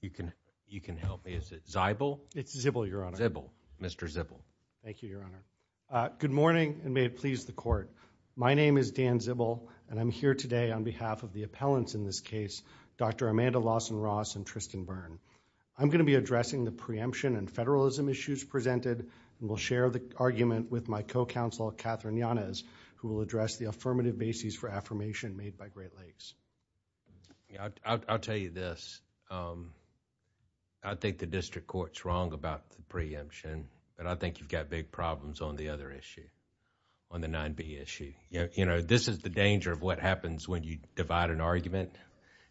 You can you can help me. Is it Zibal? It's Zibal, Your Honor. Zibal. Mr. Zibal. Thank you, Your Honor. Good morning and may it please the court. My name is Dan Zibal and I'm here today on behalf of the appellants in this case, Dr. Amanda Lawson-Ross and Tristan Byrne. I'm going to be addressing the preemption and federalism issues presented and will share the argument with my co-counsel Catherine Yanez who will address the affirmative basis for affirmation made by Great Lakes. I'll tell you this. I think the district court's wrong about the preemption and I think you've got big problems on the other issue, on the 9b issue. You know, this is the danger of what happens when you divide an argument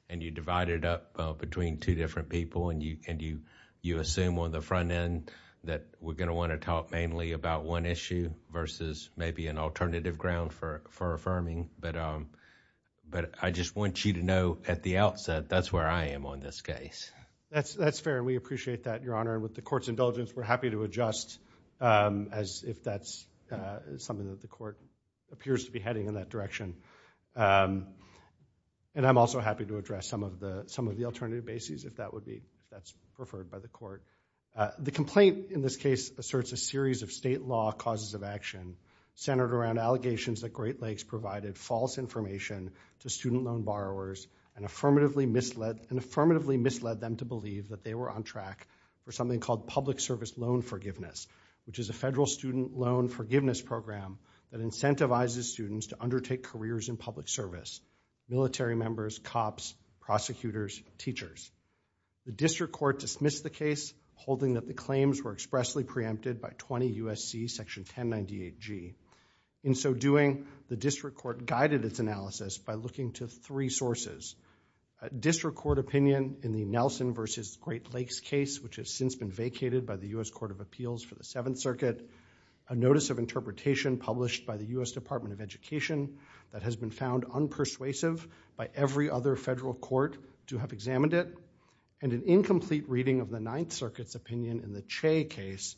and you divide it up between two different people and you can do you assume on the front end that we're going to want to talk mainly about one issue versus maybe an alternative ground for affirming but I just want you to know at the outset that's where I am on this case. That's fair and we appreciate that, Your Honor. With the court's indulgence, we're happy to adjust as if that's something that the court appears to be heading in that direction and I'm also happy to address some of the some of the alternative bases if that would be that's preferred by the court. The complaint in this case asserts a series of state law causes of action centered around allegations that Great Lakes provided false information to student loan borrowers and affirmatively misled and affirmatively misled them to believe that they were on track for something called public service loan forgiveness which is a federal student loan forgiveness program that incentivizes students to undertake careers in public service, military members, cops, prosecutors, teachers. The district court dismissed the case holding that the claims were expressly preempted by 20 U.S.C. section 1098G. In so doing, the district court guided its analysis by looking to three sources. A district court opinion in the Nelson versus Great Lakes case which has since been vacated by the U.S. Court of Appeals for the Seventh Circuit, a notice of interpretation published by the U.S. Department of Education that has been found unpersuasive by every other federal court to have examined it, and an incomplete reading of the Ninth Circuit case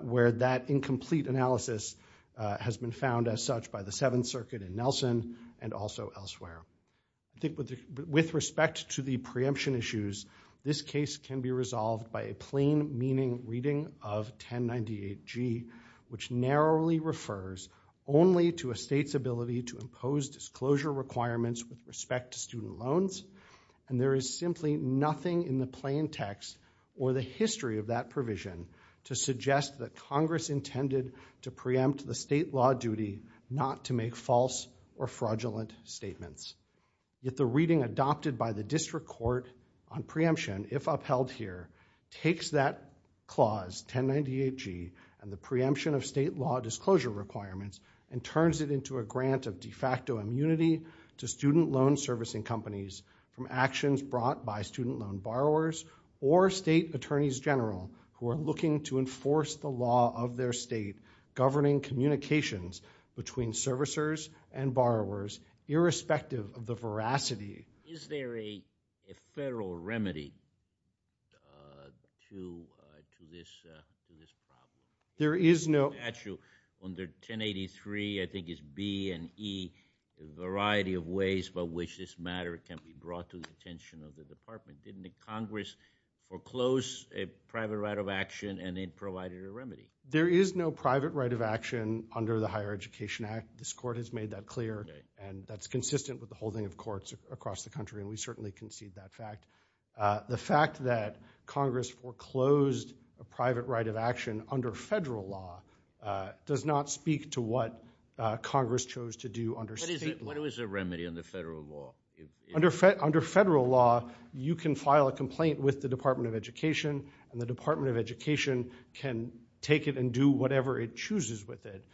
where that incomplete analysis has been found as such by the Seventh Circuit in Nelson and also elsewhere. I think with respect to the preemption issues, this case can be resolved by a plain meaning reading of 1098G which narrowly refers only to a state's ability to impose disclosure requirements with respect to student loans and there is simply nothing in the suggest that Congress intended to preempt the state law duty not to make false or fraudulent statements. Yet the reading adopted by the district court on preemption if upheld here takes that clause 1098G and the preemption of state law disclosure requirements and turns it into a grant of de facto immunity to student loan servicing companies from actions brought by student loan borrowers or state attorneys general who are looking to enforce the law of their state governing communications between servicers and borrowers irrespective of the veracity. Is there a federal remedy to this? There is no. Under 1083, I think it's B and E, a variety of ways by which this matter can be brought to the department. Didn't the Congress foreclose a private right of action and then provided a remedy? There is no private right of action under the Higher Education Act. This court has made that clear and that's consistent with the holding of courts across the country and we certainly concede that fact. The fact that Congress foreclosed a private right of action under federal law does not speak to what Congress chose to do under state law. What is a remedy in the You can file a complaint with the Department of Education and the Department of Education can take it and do whatever it chooses with it,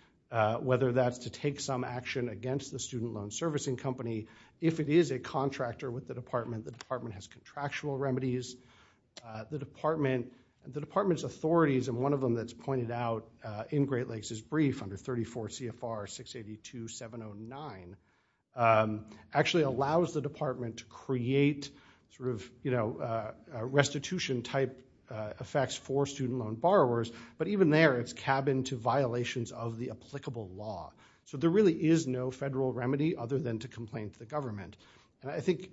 whether that's to take some action against the student loan servicing company. If it is a contractor with the department, the department has contractual remedies. The department and the department's authorities and one of them that's pointed out in Great Lakes is brief under 34 CFR 682 709 actually allows the restitution type effects for student loan borrowers but even there it's cabined to violations of the applicable law. So there really is no federal remedy other than to complain to the government. I think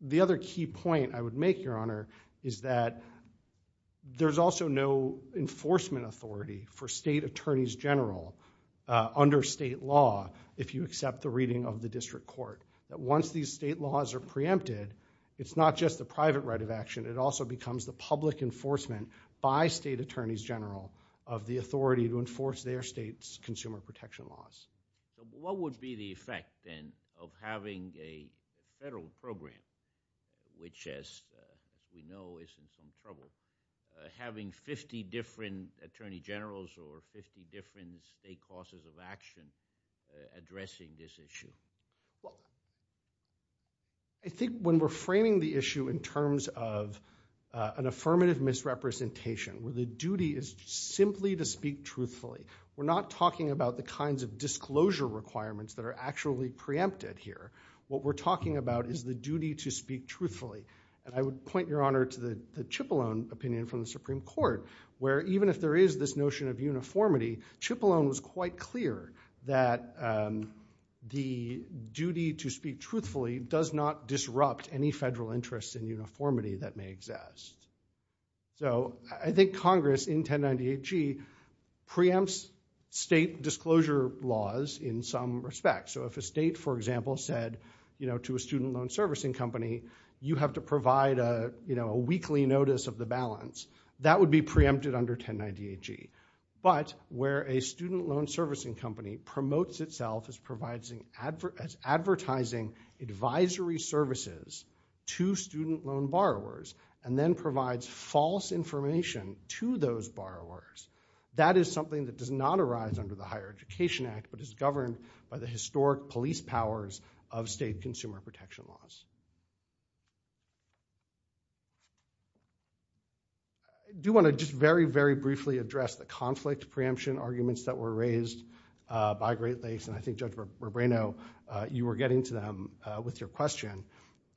the other key point I would make your honor is that there's also no enforcement authority for state attorneys general under state law if you accept the reading of the district court. That once these state laws are preempted it's not just the private right of action it also becomes the public enforcement by state attorneys general of the authority to enforce their state's consumer protection laws. What would be the effect then of having a federal program which as we know is in some trouble having 50 different attorney generals or 50 different state process of action addressing this issue? I think when we're framing the issue in terms of an affirmative misrepresentation where the duty is simply to speak truthfully. We're not talking about the kinds of disclosure requirements that are actually preempted here. What we're talking about is the duty to speak truthfully and I would point your honor to the Cipollone opinion from the Supreme Court where even if there is this notion of uniformity it's quite clear that the duty to speak truthfully does not disrupt any federal interest in uniformity that may exist. So I think Congress in 1098G preempts state disclosure laws in some respect. So if a state for example said you know to a student loan servicing company you have to provide a you know a weekly notice of the balance that would be preempted under 1098G. But where a student loan servicing company promotes itself as advertising advisory services to student loan borrowers and then provides false information to those borrowers that is something that does not arise under the Higher Education Act but is governed by the historic police powers of state consumer protection laws. I do want to just very very briefly address the conflict preemption arguments that were raised by Great Lakes and I think Judge Brabrano you were getting to them with your question.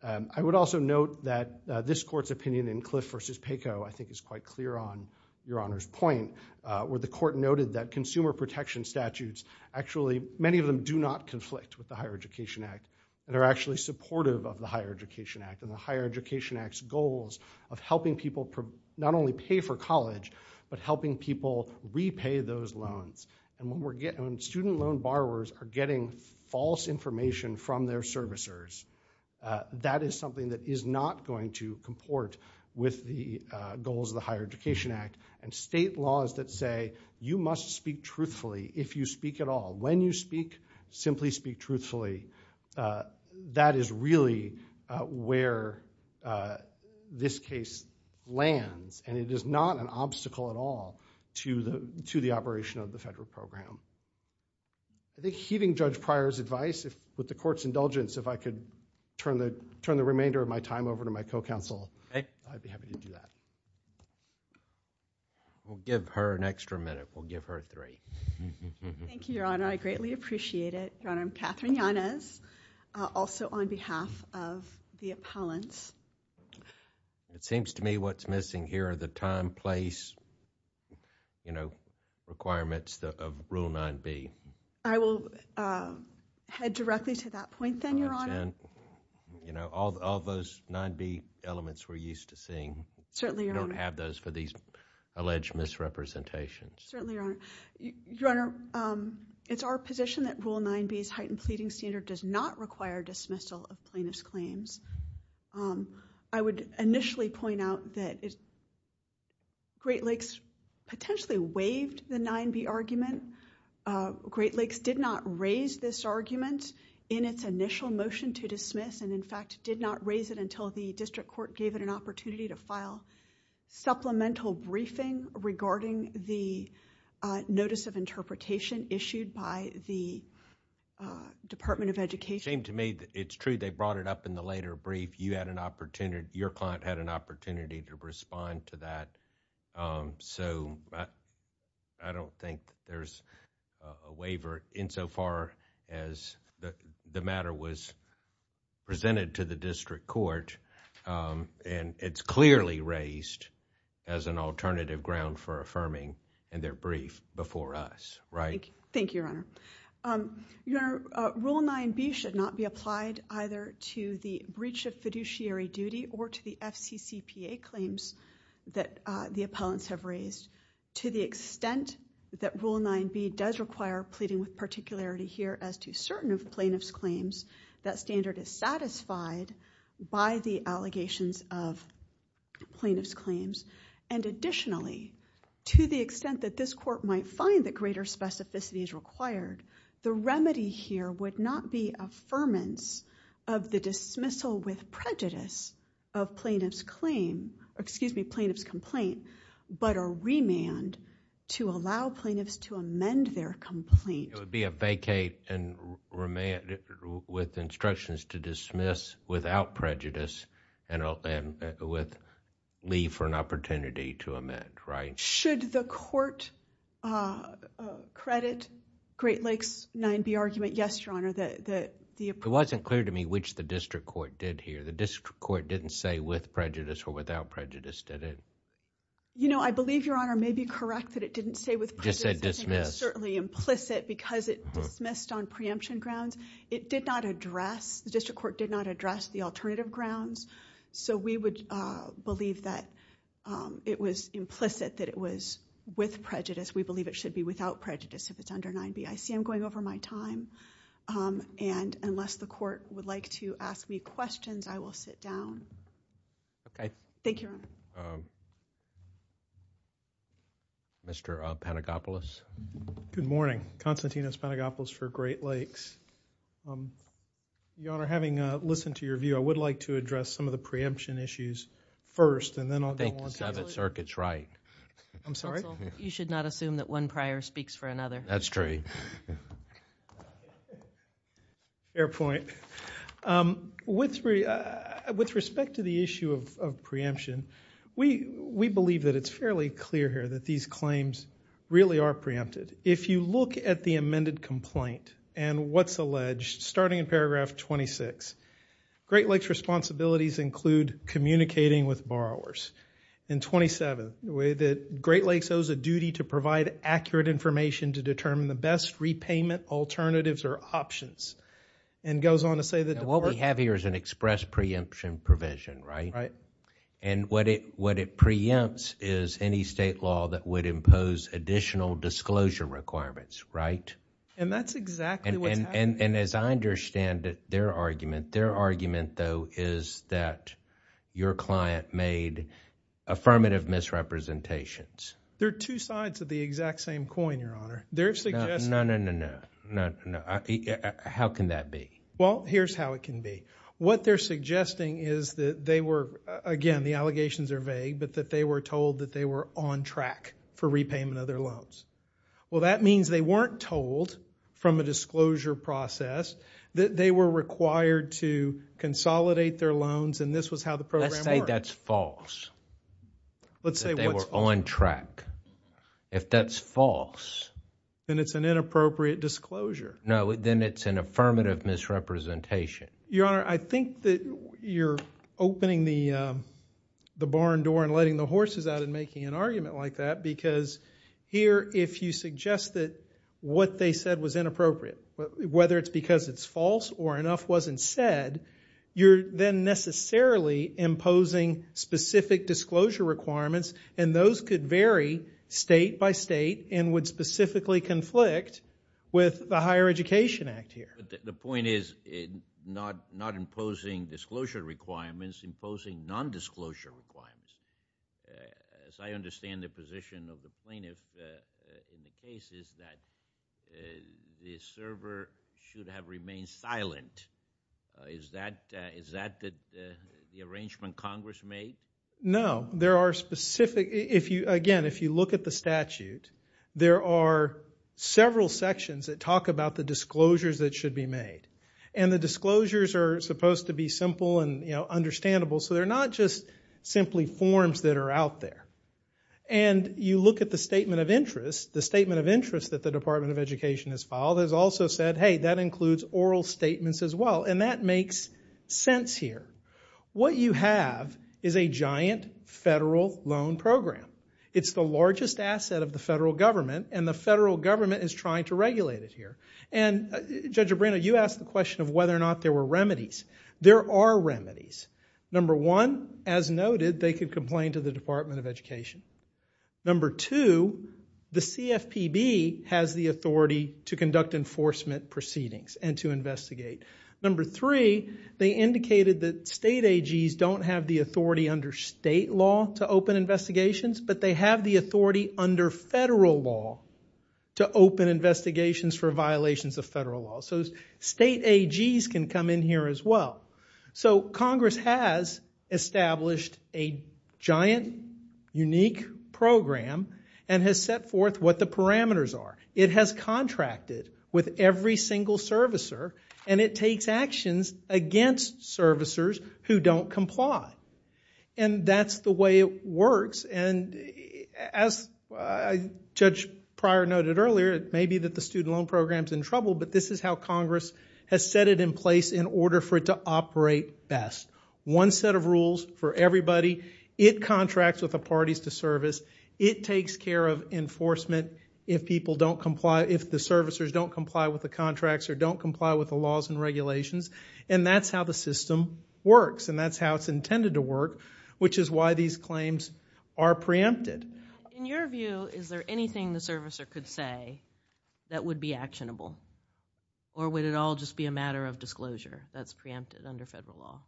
I would also note that this court's opinion in Cliff v. Paco I think is quite clear on your honor's point where the court noted that consumer protection statutes actually many of them do not conflict with the Higher Education Act and are actually supportive of the Higher Education Act and the Higher Education Act's goals of helping people not only pay for college but helping people repay those loans and when we're getting student loan borrowers are getting false information from their servicers that is something that is not going to comport with the goals of the Higher Education Act and state laws that say you must speak truthfully if you speak at all when you speak simply speak truthfully that is really where this case lands and it is not an obstacle at all to the to the operation of the federal program. I think heeding Judge Pryor's advice if with the court's indulgence if I could turn the turn the remainder of my time over to my co-counsel I'd be happy to do that. We'll give her an extra minute we'll give her three. Thank you your honor I greatly appreciate it your honor. I'm Katherine Yanez also on behalf of the time-place you know requirements of Rule 9b. I will head directly to that point then your honor. You know all those 9b elements we're used to seeing certainly don't have those for these alleged misrepresentations. Certainly your honor it's our position that Rule 9b's heightened pleading standard does not require dismissal of plaintiff's claims. I would initially point out that Great Lakes potentially waived the 9b argument. Great Lakes did not raise this argument in its initial motion to dismiss and in fact did not raise it until the district court gave it an opportunity to file supplemental briefing regarding the notice of interpretation issued by the Department of Education. It seemed to me that it's true they brought it up in the later brief you had an opportunity your client had an opportunity to respond to that so I don't think there's a waiver insofar as the matter was presented to the district court and it's clearly raised as an alternative ground for affirming and their brief before us right. Thank you your honor. Your rule 9b should not be applied either to the breach of fiduciary duty or to the FCCPA claims that the appellants have raised to the extent that Rule 9b does require pleading with particularity here as to certain of plaintiff's claims that standard is satisfied by the allegations of plaintiff's claims and additionally to the extent that this court might find that greater specificity is required the affirmance of the dismissal with prejudice of plaintiff's claim excuse me plaintiff's complaint but a remand to allow plaintiffs to amend their complaint. It would be a vacate and remand with instructions to dismiss without prejudice and with leave for an opportunity to amend right. Should the It wasn't clear to me which the district court did here the district court didn't say with prejudice or without prejudice did it? You know I believe your honor may be correct that it didn't say with prejudice certainly implicit because it dismissed on preemption grounds it did not address the district court did not address the alternative grounds so we would believe that it was implicit that it was with prejudice we believe it should be without prejudice if it's 9b I see I'm going over my time and unless the court would like to ask me questions I will sit down. Okay. Thank you your honor. Mr. Panagopoulos. Good morning Konstantinos Panagopoulos for Great Lakes. Your honor having listened to your view I would like to address some of the preemption issues first and then I'll go on. Thank you sir it's right. I'm sorry. You should not assume that one prior speaks for another. That's true. Fair point. With respect to the issue of preemption we we believe that it's fairly clear here that these claims really are preempted if you look at the amended complaint and what's alleged starting in paragraph 26 Great Lakes responsibilities include communicating with borrowers in 27 the way that Great information to determine the best repayment alternatives or options and goes on to say that what we have here is an express preemption provision right right and what it what it preempts is any state law that would impose additional disclosure requirements right and that's exactly and and as I understand it their argument their argument though is that your client made affirmative misrepresentations there are two sides of the exact same coin your honor there's no no no no no no how can that be well here's how it can be what they're suggesting is that they were again the allegations are vague but that they were told that they were on track for repayment of their loans well that means they weren't told from a disclosure process that they were required to consolidate their loans and this was how the program let's say that's false let's say they were on track if that's false then it's an inappropriate disclosure no then it's an affirmative misrepresentation your honor I think that you're opening the the barn door and letting the horses out and making an argument like that because here if you suggest that what they said was inappropriate whether it's because it's false or enough wasn't said you're then necessarily imposing specific disclosure requirements and those could vary state-by-state and would specifically conflict with the Higher Education Act here the point is it not not imposing disclosure requirements imposing non-disclosure requirements as I understand the position of the plaintiff is that the server should have remained silent is that is that good the arrangement Congress made no there are specific if you again if you look at the statute there are several sections that talk about the disclosures that should be made and the disclosures are supposed to be simple and you know understandable so they're not just simply forms that are out there and you look at the statement of interest the statement of interest that the Department of Education has filed has also said hey that includes oral statements as well and that makes sense here what you have is a giant federal loan program it's the largest asset of the federal government and the federal government is trying to regulate it here and judge a brand-new ask the question of whether or not there were remedies there are remedies number one as noted they could complain to the Department of Education number two the CFPB has the authority to conduct enforcement proceedings and to investigate number three they indicated that state AGs don't have the authority under state law to open investigations but they have the authority under federal law to open investigations for violations of federal law so state AGs can come in here as well so Congress has established a giant unique program and has set forth what the parameters are it has contracted with every single servicer and it takes actions against servicers who don't comply and that's the way it works and as I judge prior noted earlier it may be that the student loan program is in trouble but this is how Congress has set it in place in order for it to operate best one set of rules for everybody it contracts with the parties to service it takes care of enforcement if people don't comply if the servicers don't comply with the contracts or don't comply with the laws and regulations and that's how the system works and that's how it's intended to work which is why these claims are preempted in your view is there anything the servicer could say that would be actionable or would it all just be a matter of disclosure that's preempted under federal law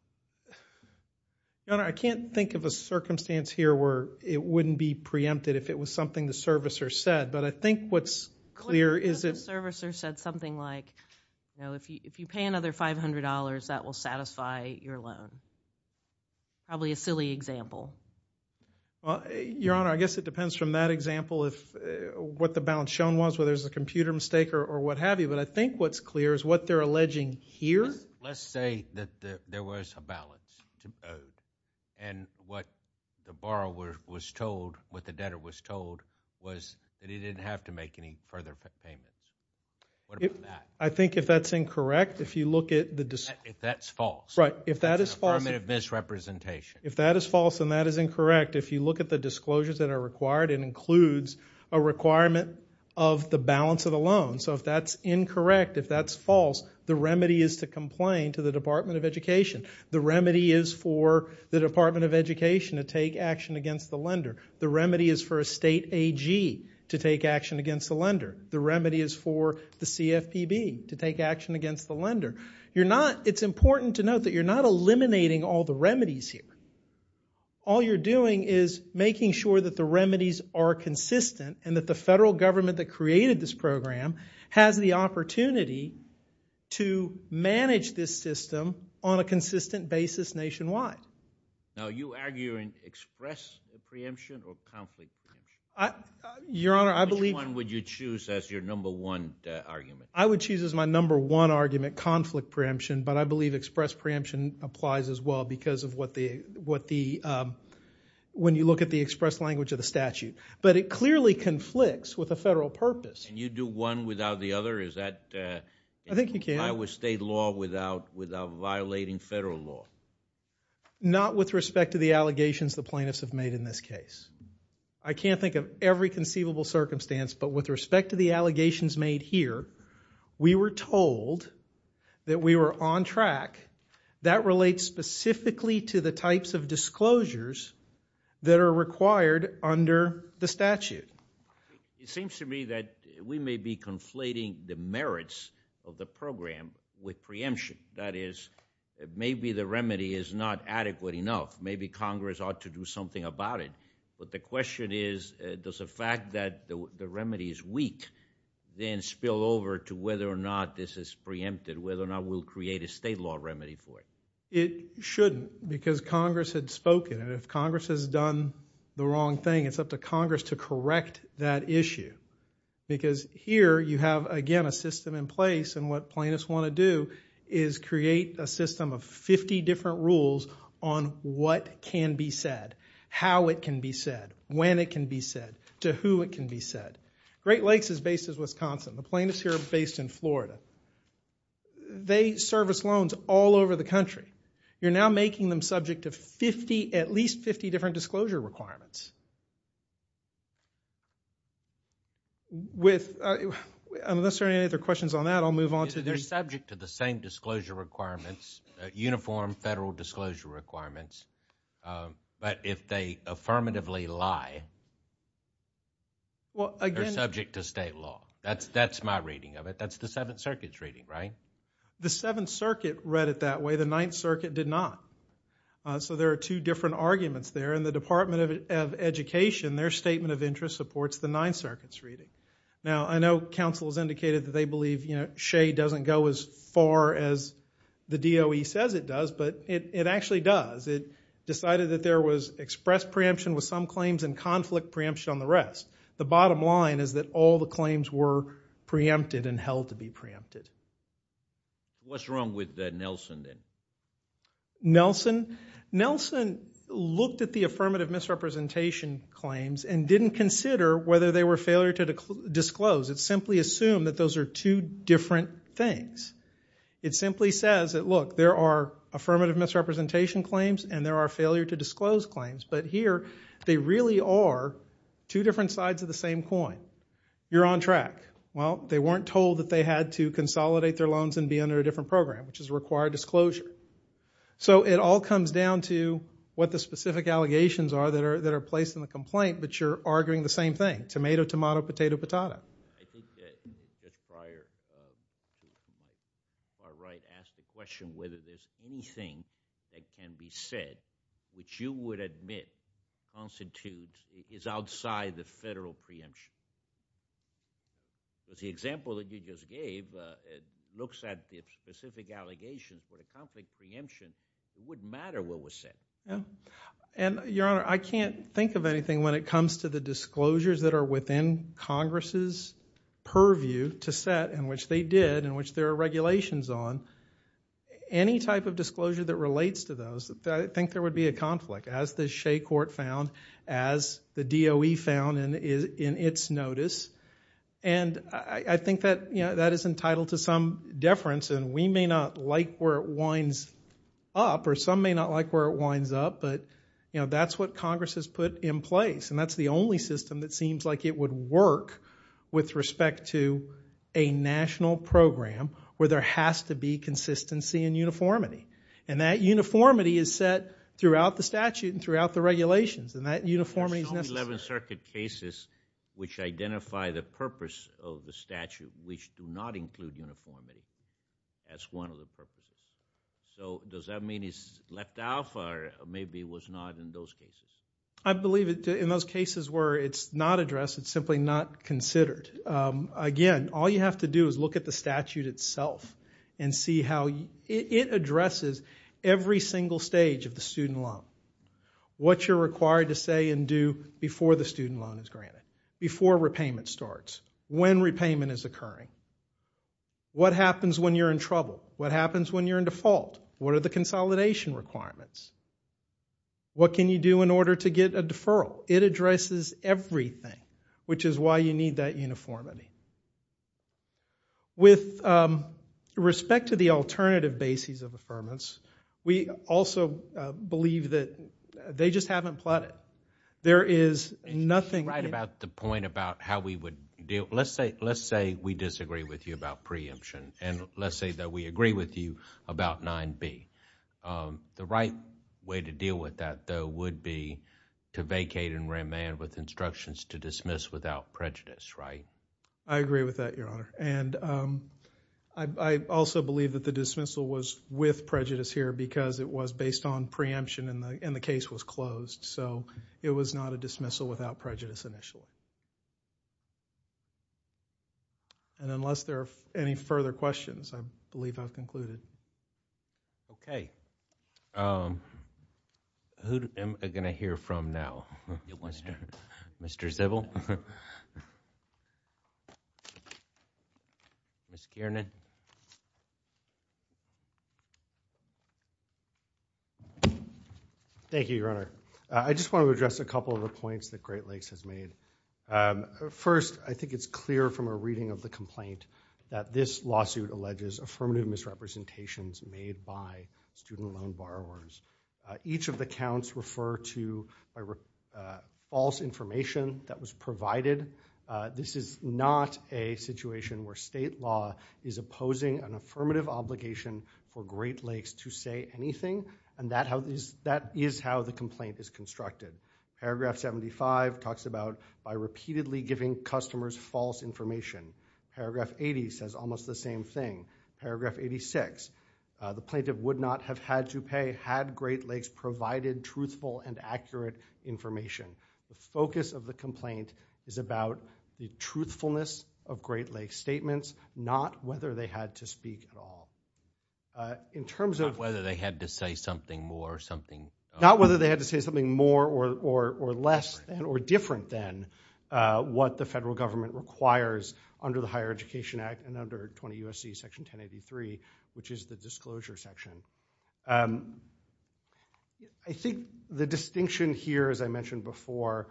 I can't think of a circumstance here where it wouldn't be preempted if it was something the servicer said but I think what's clear is it servicer said something like you know if you if you pay another $500 that will satisfy your loan probably a silly example well your balance shown was where there's a computer mistake or what-have-you but I think what's clear is what they're alleging here let's say that there was a balance and what the borrower was told what the debtor was told was that he didn't have to make any further payments I think if that's incorrect if you look at the disc if that's false right if that is formative misrepresentation if that is false and that is incorrect if you look at the disclosures that are required and includes a requirement of the balance of the loan so if that's incorrect if that's false the remedy is to complain to the Department of Education the remedy is for the Department of Education to take action against the lender the remedy is for a state AG to take action against the lender the remedy is for the CFPB to take action against the lender you're not it's important to note that you're not eliminating all the remedies here all you're doing is making sure that the remedies are consistent and that the federal government that created this program has the opportunity to manage this system on a consistent basis nationwide now you arguing express preemption or conflict I your honor I believe one would you choose as your number one argument I would choose as my number one argument conflict preemption but I believe express preemption applies as well because of what the what the when you look at the express language of the statute but it clearly conflicts with a federal purpose you do one without the other is that I think you can I was state law without without violating federal law not with respect to the allegations the plaintiffs have made in this case I can't think of every conceivable circumstance but with respect to the allegations made here we were told that we were on track that relates specifically to the types of disclosures that are required under the statute it seems to me that we may be conflating the merits of the program with preemption that is it may be the remedy is not adequate enough maybe Congress ought to do something about it but the question is does the fact that the remedy is weak then spill over to whether or not this is preempted whether or not we'll create a state law remedy for it it shouldn't because Congress had spoken and if Congress has done the wrong thing it's up to Congress to correct that issue because here you have again a system in place and what plaintiffs want to do is create a system of 50 different rules on what can be said how it can be said when it can be said to who it can be said Great Lakes is based in Wisconsin the plaintiffs here based in Florida they service loans all over the country you're now making them subject to 50 at least 50 different disclosure requirements with unless there any other questions on that I'll move on to their subject to the same disclosure requirements uniform federal disclosure requirements but if they affirmatively lie well again subject to state law that's that's my reading of it that's the Seventh Circuit's reading right the Seventh Circuit read it that way the Ninth Circuit did not so there are two different arguments there in the Department of Education their statement of interest supports the Ninth Circuit's reading now I know counsel has indicated that they believe you know shade doesn't go as far as the DOE says it does but it actually does it decided that there was expressed preemption with some claims and conflict preemption on the rest the bottom line is that all the claims were preempted and held to be preempted what's wrong with that Nelson then Nelson Nelson looked at the affirmative misrepresentation claims and didn't consider whether they were failure to disclose it simply assumed that those are two different things it simply says that look there are affirmative misrepresentation claims and there are failure to disclose claims but here they really are two different sides of the same coin you're on track well they weren't told that they had to consolidate their loans and be under a different program which is a required disclosure so it all comes down to what the specific allegations are that are that are placed in the complaint but you're arguing the same thing tomato tomato potato potato prior right ask the question whether there's anything that can be said which you would admit constitutes is outside the federal preemption was the example that you just gave it looks at the specific allegations for the conflict preemption it wouldn't matter what was said yeah and your honor I can't think of anything when it comes to the disclosures that are within Congress's purview to set in which they did in which their regulations on any type of disclosure that relates to those that I think there would be a conflict as the Shea court found as the DOE found and is in its notice and I think that you know that is entitled to some deference and we may not like where it winds up or some may not like where it winds up but you know that's what Congress has put in place and that's the only system that seems like it would work with respect to a national program where there has to be consistency and uniformity and that uniformity is set throughout the statute and throughout the regulations and that uniformity 11th Circuit cases which identify the purpose of the statute which do not include uniformity as one of the purposes so does that mean it's left out for maybe was not in those cases I believe it in those cases where it's not addressed it's simply not considered again all you have to do is look at the statute itself and see how it addresses every single stage of the student loan what you're required to say and do before the student loan is granted before repayment starts when repayment is occurring what are the consolidation requirements what can you do in order to get a deferral it addresses everything which is why you need that uniformity with respect to the alternative basis of affirmance we also believe that they just haven't plotted there is nothing right about the point about how we would do let's say let's say we disagree with you about preemption and let's say that we agree with you about 9b the right way to deal with that though would be to vacate and remand with instructions to dismiss without prejudice right I agree with that your honor and I also believe that the dismissal was with prejudice here because it was based on preemption and the case was closed so it was not a dismissal without prejudice initially and unless there are any further questions I believe I've concluded okay who am I gonna hear from now it wants to mr. Sybil miss Kiernan thank you your honor I just want to address a couple of the points that Great Lakes has made first I think it's clear from a reading of the complaint that this lawsuit alleges affirmative misrepresentations made by student loan borrowers each of the counts refer to a false information that was provided this is not a situation where state law is opposing an affirmative obligation for Great Lakes to say anything and that how this that is how the complaint is constructed paragraph 75 talks about by repeatedly giving customers false information paragraph 80 says almost the same thing paragraph 86 the plaintiff would not have had to pay had Great Lakes provided truthful and accurate information the focus of the complaint is about the truthfulness of Great Lakes statements not whether they had to speak at all in terms of whether they had to say something more or something not whether they had to say something more or or or less than or different than what the federal government requires under the Higher Education Act and under 20 USC section 1083 which is the disclosure section I think the distinction here as I mentioned before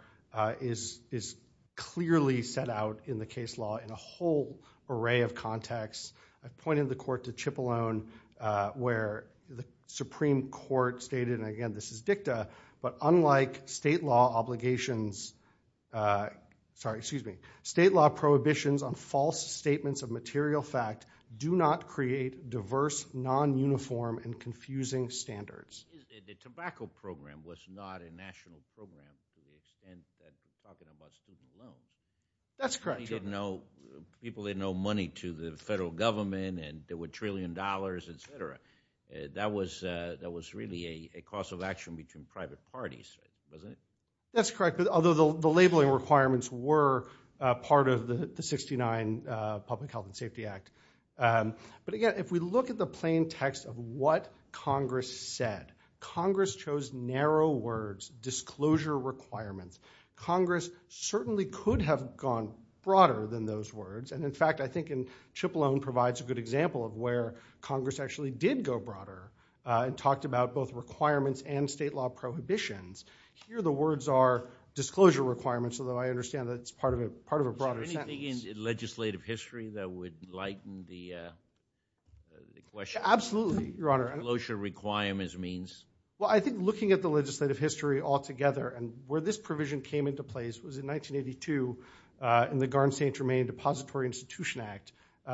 is is clearly set out in the case law in a whole array of context I've pointed the court to chip alone where the Supreme Court stated again this is dicta but unlike state law obligations sorry excuse me state law prohibitions on false statements of material fact do not create diverse non-uniform and confusing standards the tobacco program was not a national program that's correct didn't know people didn't know money to the federal government and there were trillion dollars etc that was that was really a cost of action between private parties that's correct although the labeling requirements were part of the 69 Public Health and Safety Act but again if we look at the plain text of what Congress said Congress chose narrow words disclosure requirements Congress certainly could have gone broader than those words and in fact I think in chip alone provides a good example of where Congress actually did go broader and talked about both requirements and state law prohibitions here the words are disclosure requirements although I understand that it's part of a part of a broader legislative history that would like the closure requirements means well I think looking at the legislative history all together and where this provision came into place was in 1982 in the garden St. Germain Depository Institution Act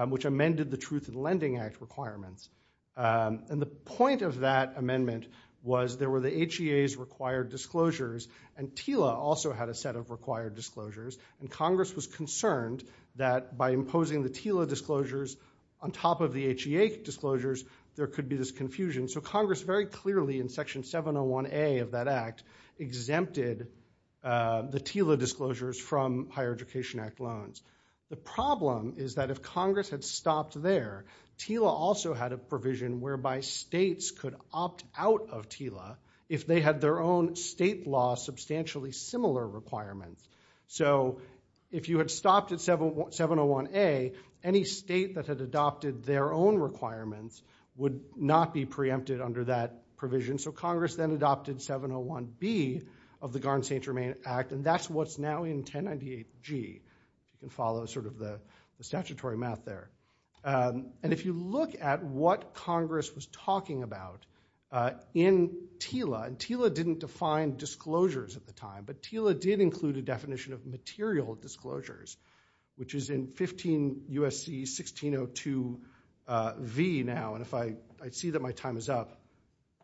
which amended the Truth Lending Act requirements and the point of that amendment was there were the HGA is required disclosures and Tila also had a set of required disclosures and Congress was concerned that by imposing the Tila disclosures on top of the HGA disclosures there could be this confusion so Congress very clearly in section 701 a of that act exempted the Tila disclosures from higher education Act loans the problem is that if Congress had stopped their Tila also had a provision whereby states could opt out of Tila if they had their own state law substantially similar requirements so if you had stopped at 7701 a any state that had adopted their own requirements would not be preempted under that provision so Congress then adopted 701 B of the garden St. Germain Act and that's what's now in 1098 G can follow sort of the statutory math there and if you look at what Congress was talking about in Tila and Tila didn't define disclosures at the time but Tila did include a definition of material disclosures which is in 15 USC 1602 V now and if I see that my time is up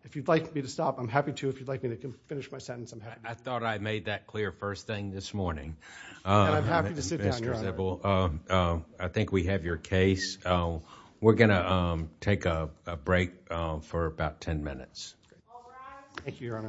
if you'd like me to stop I'm happy to if you'd like me to finish my sentence I thought I made that clear first thing this morning I think we have your case oh we're gonna take a break for about 10 minutes thank you your honor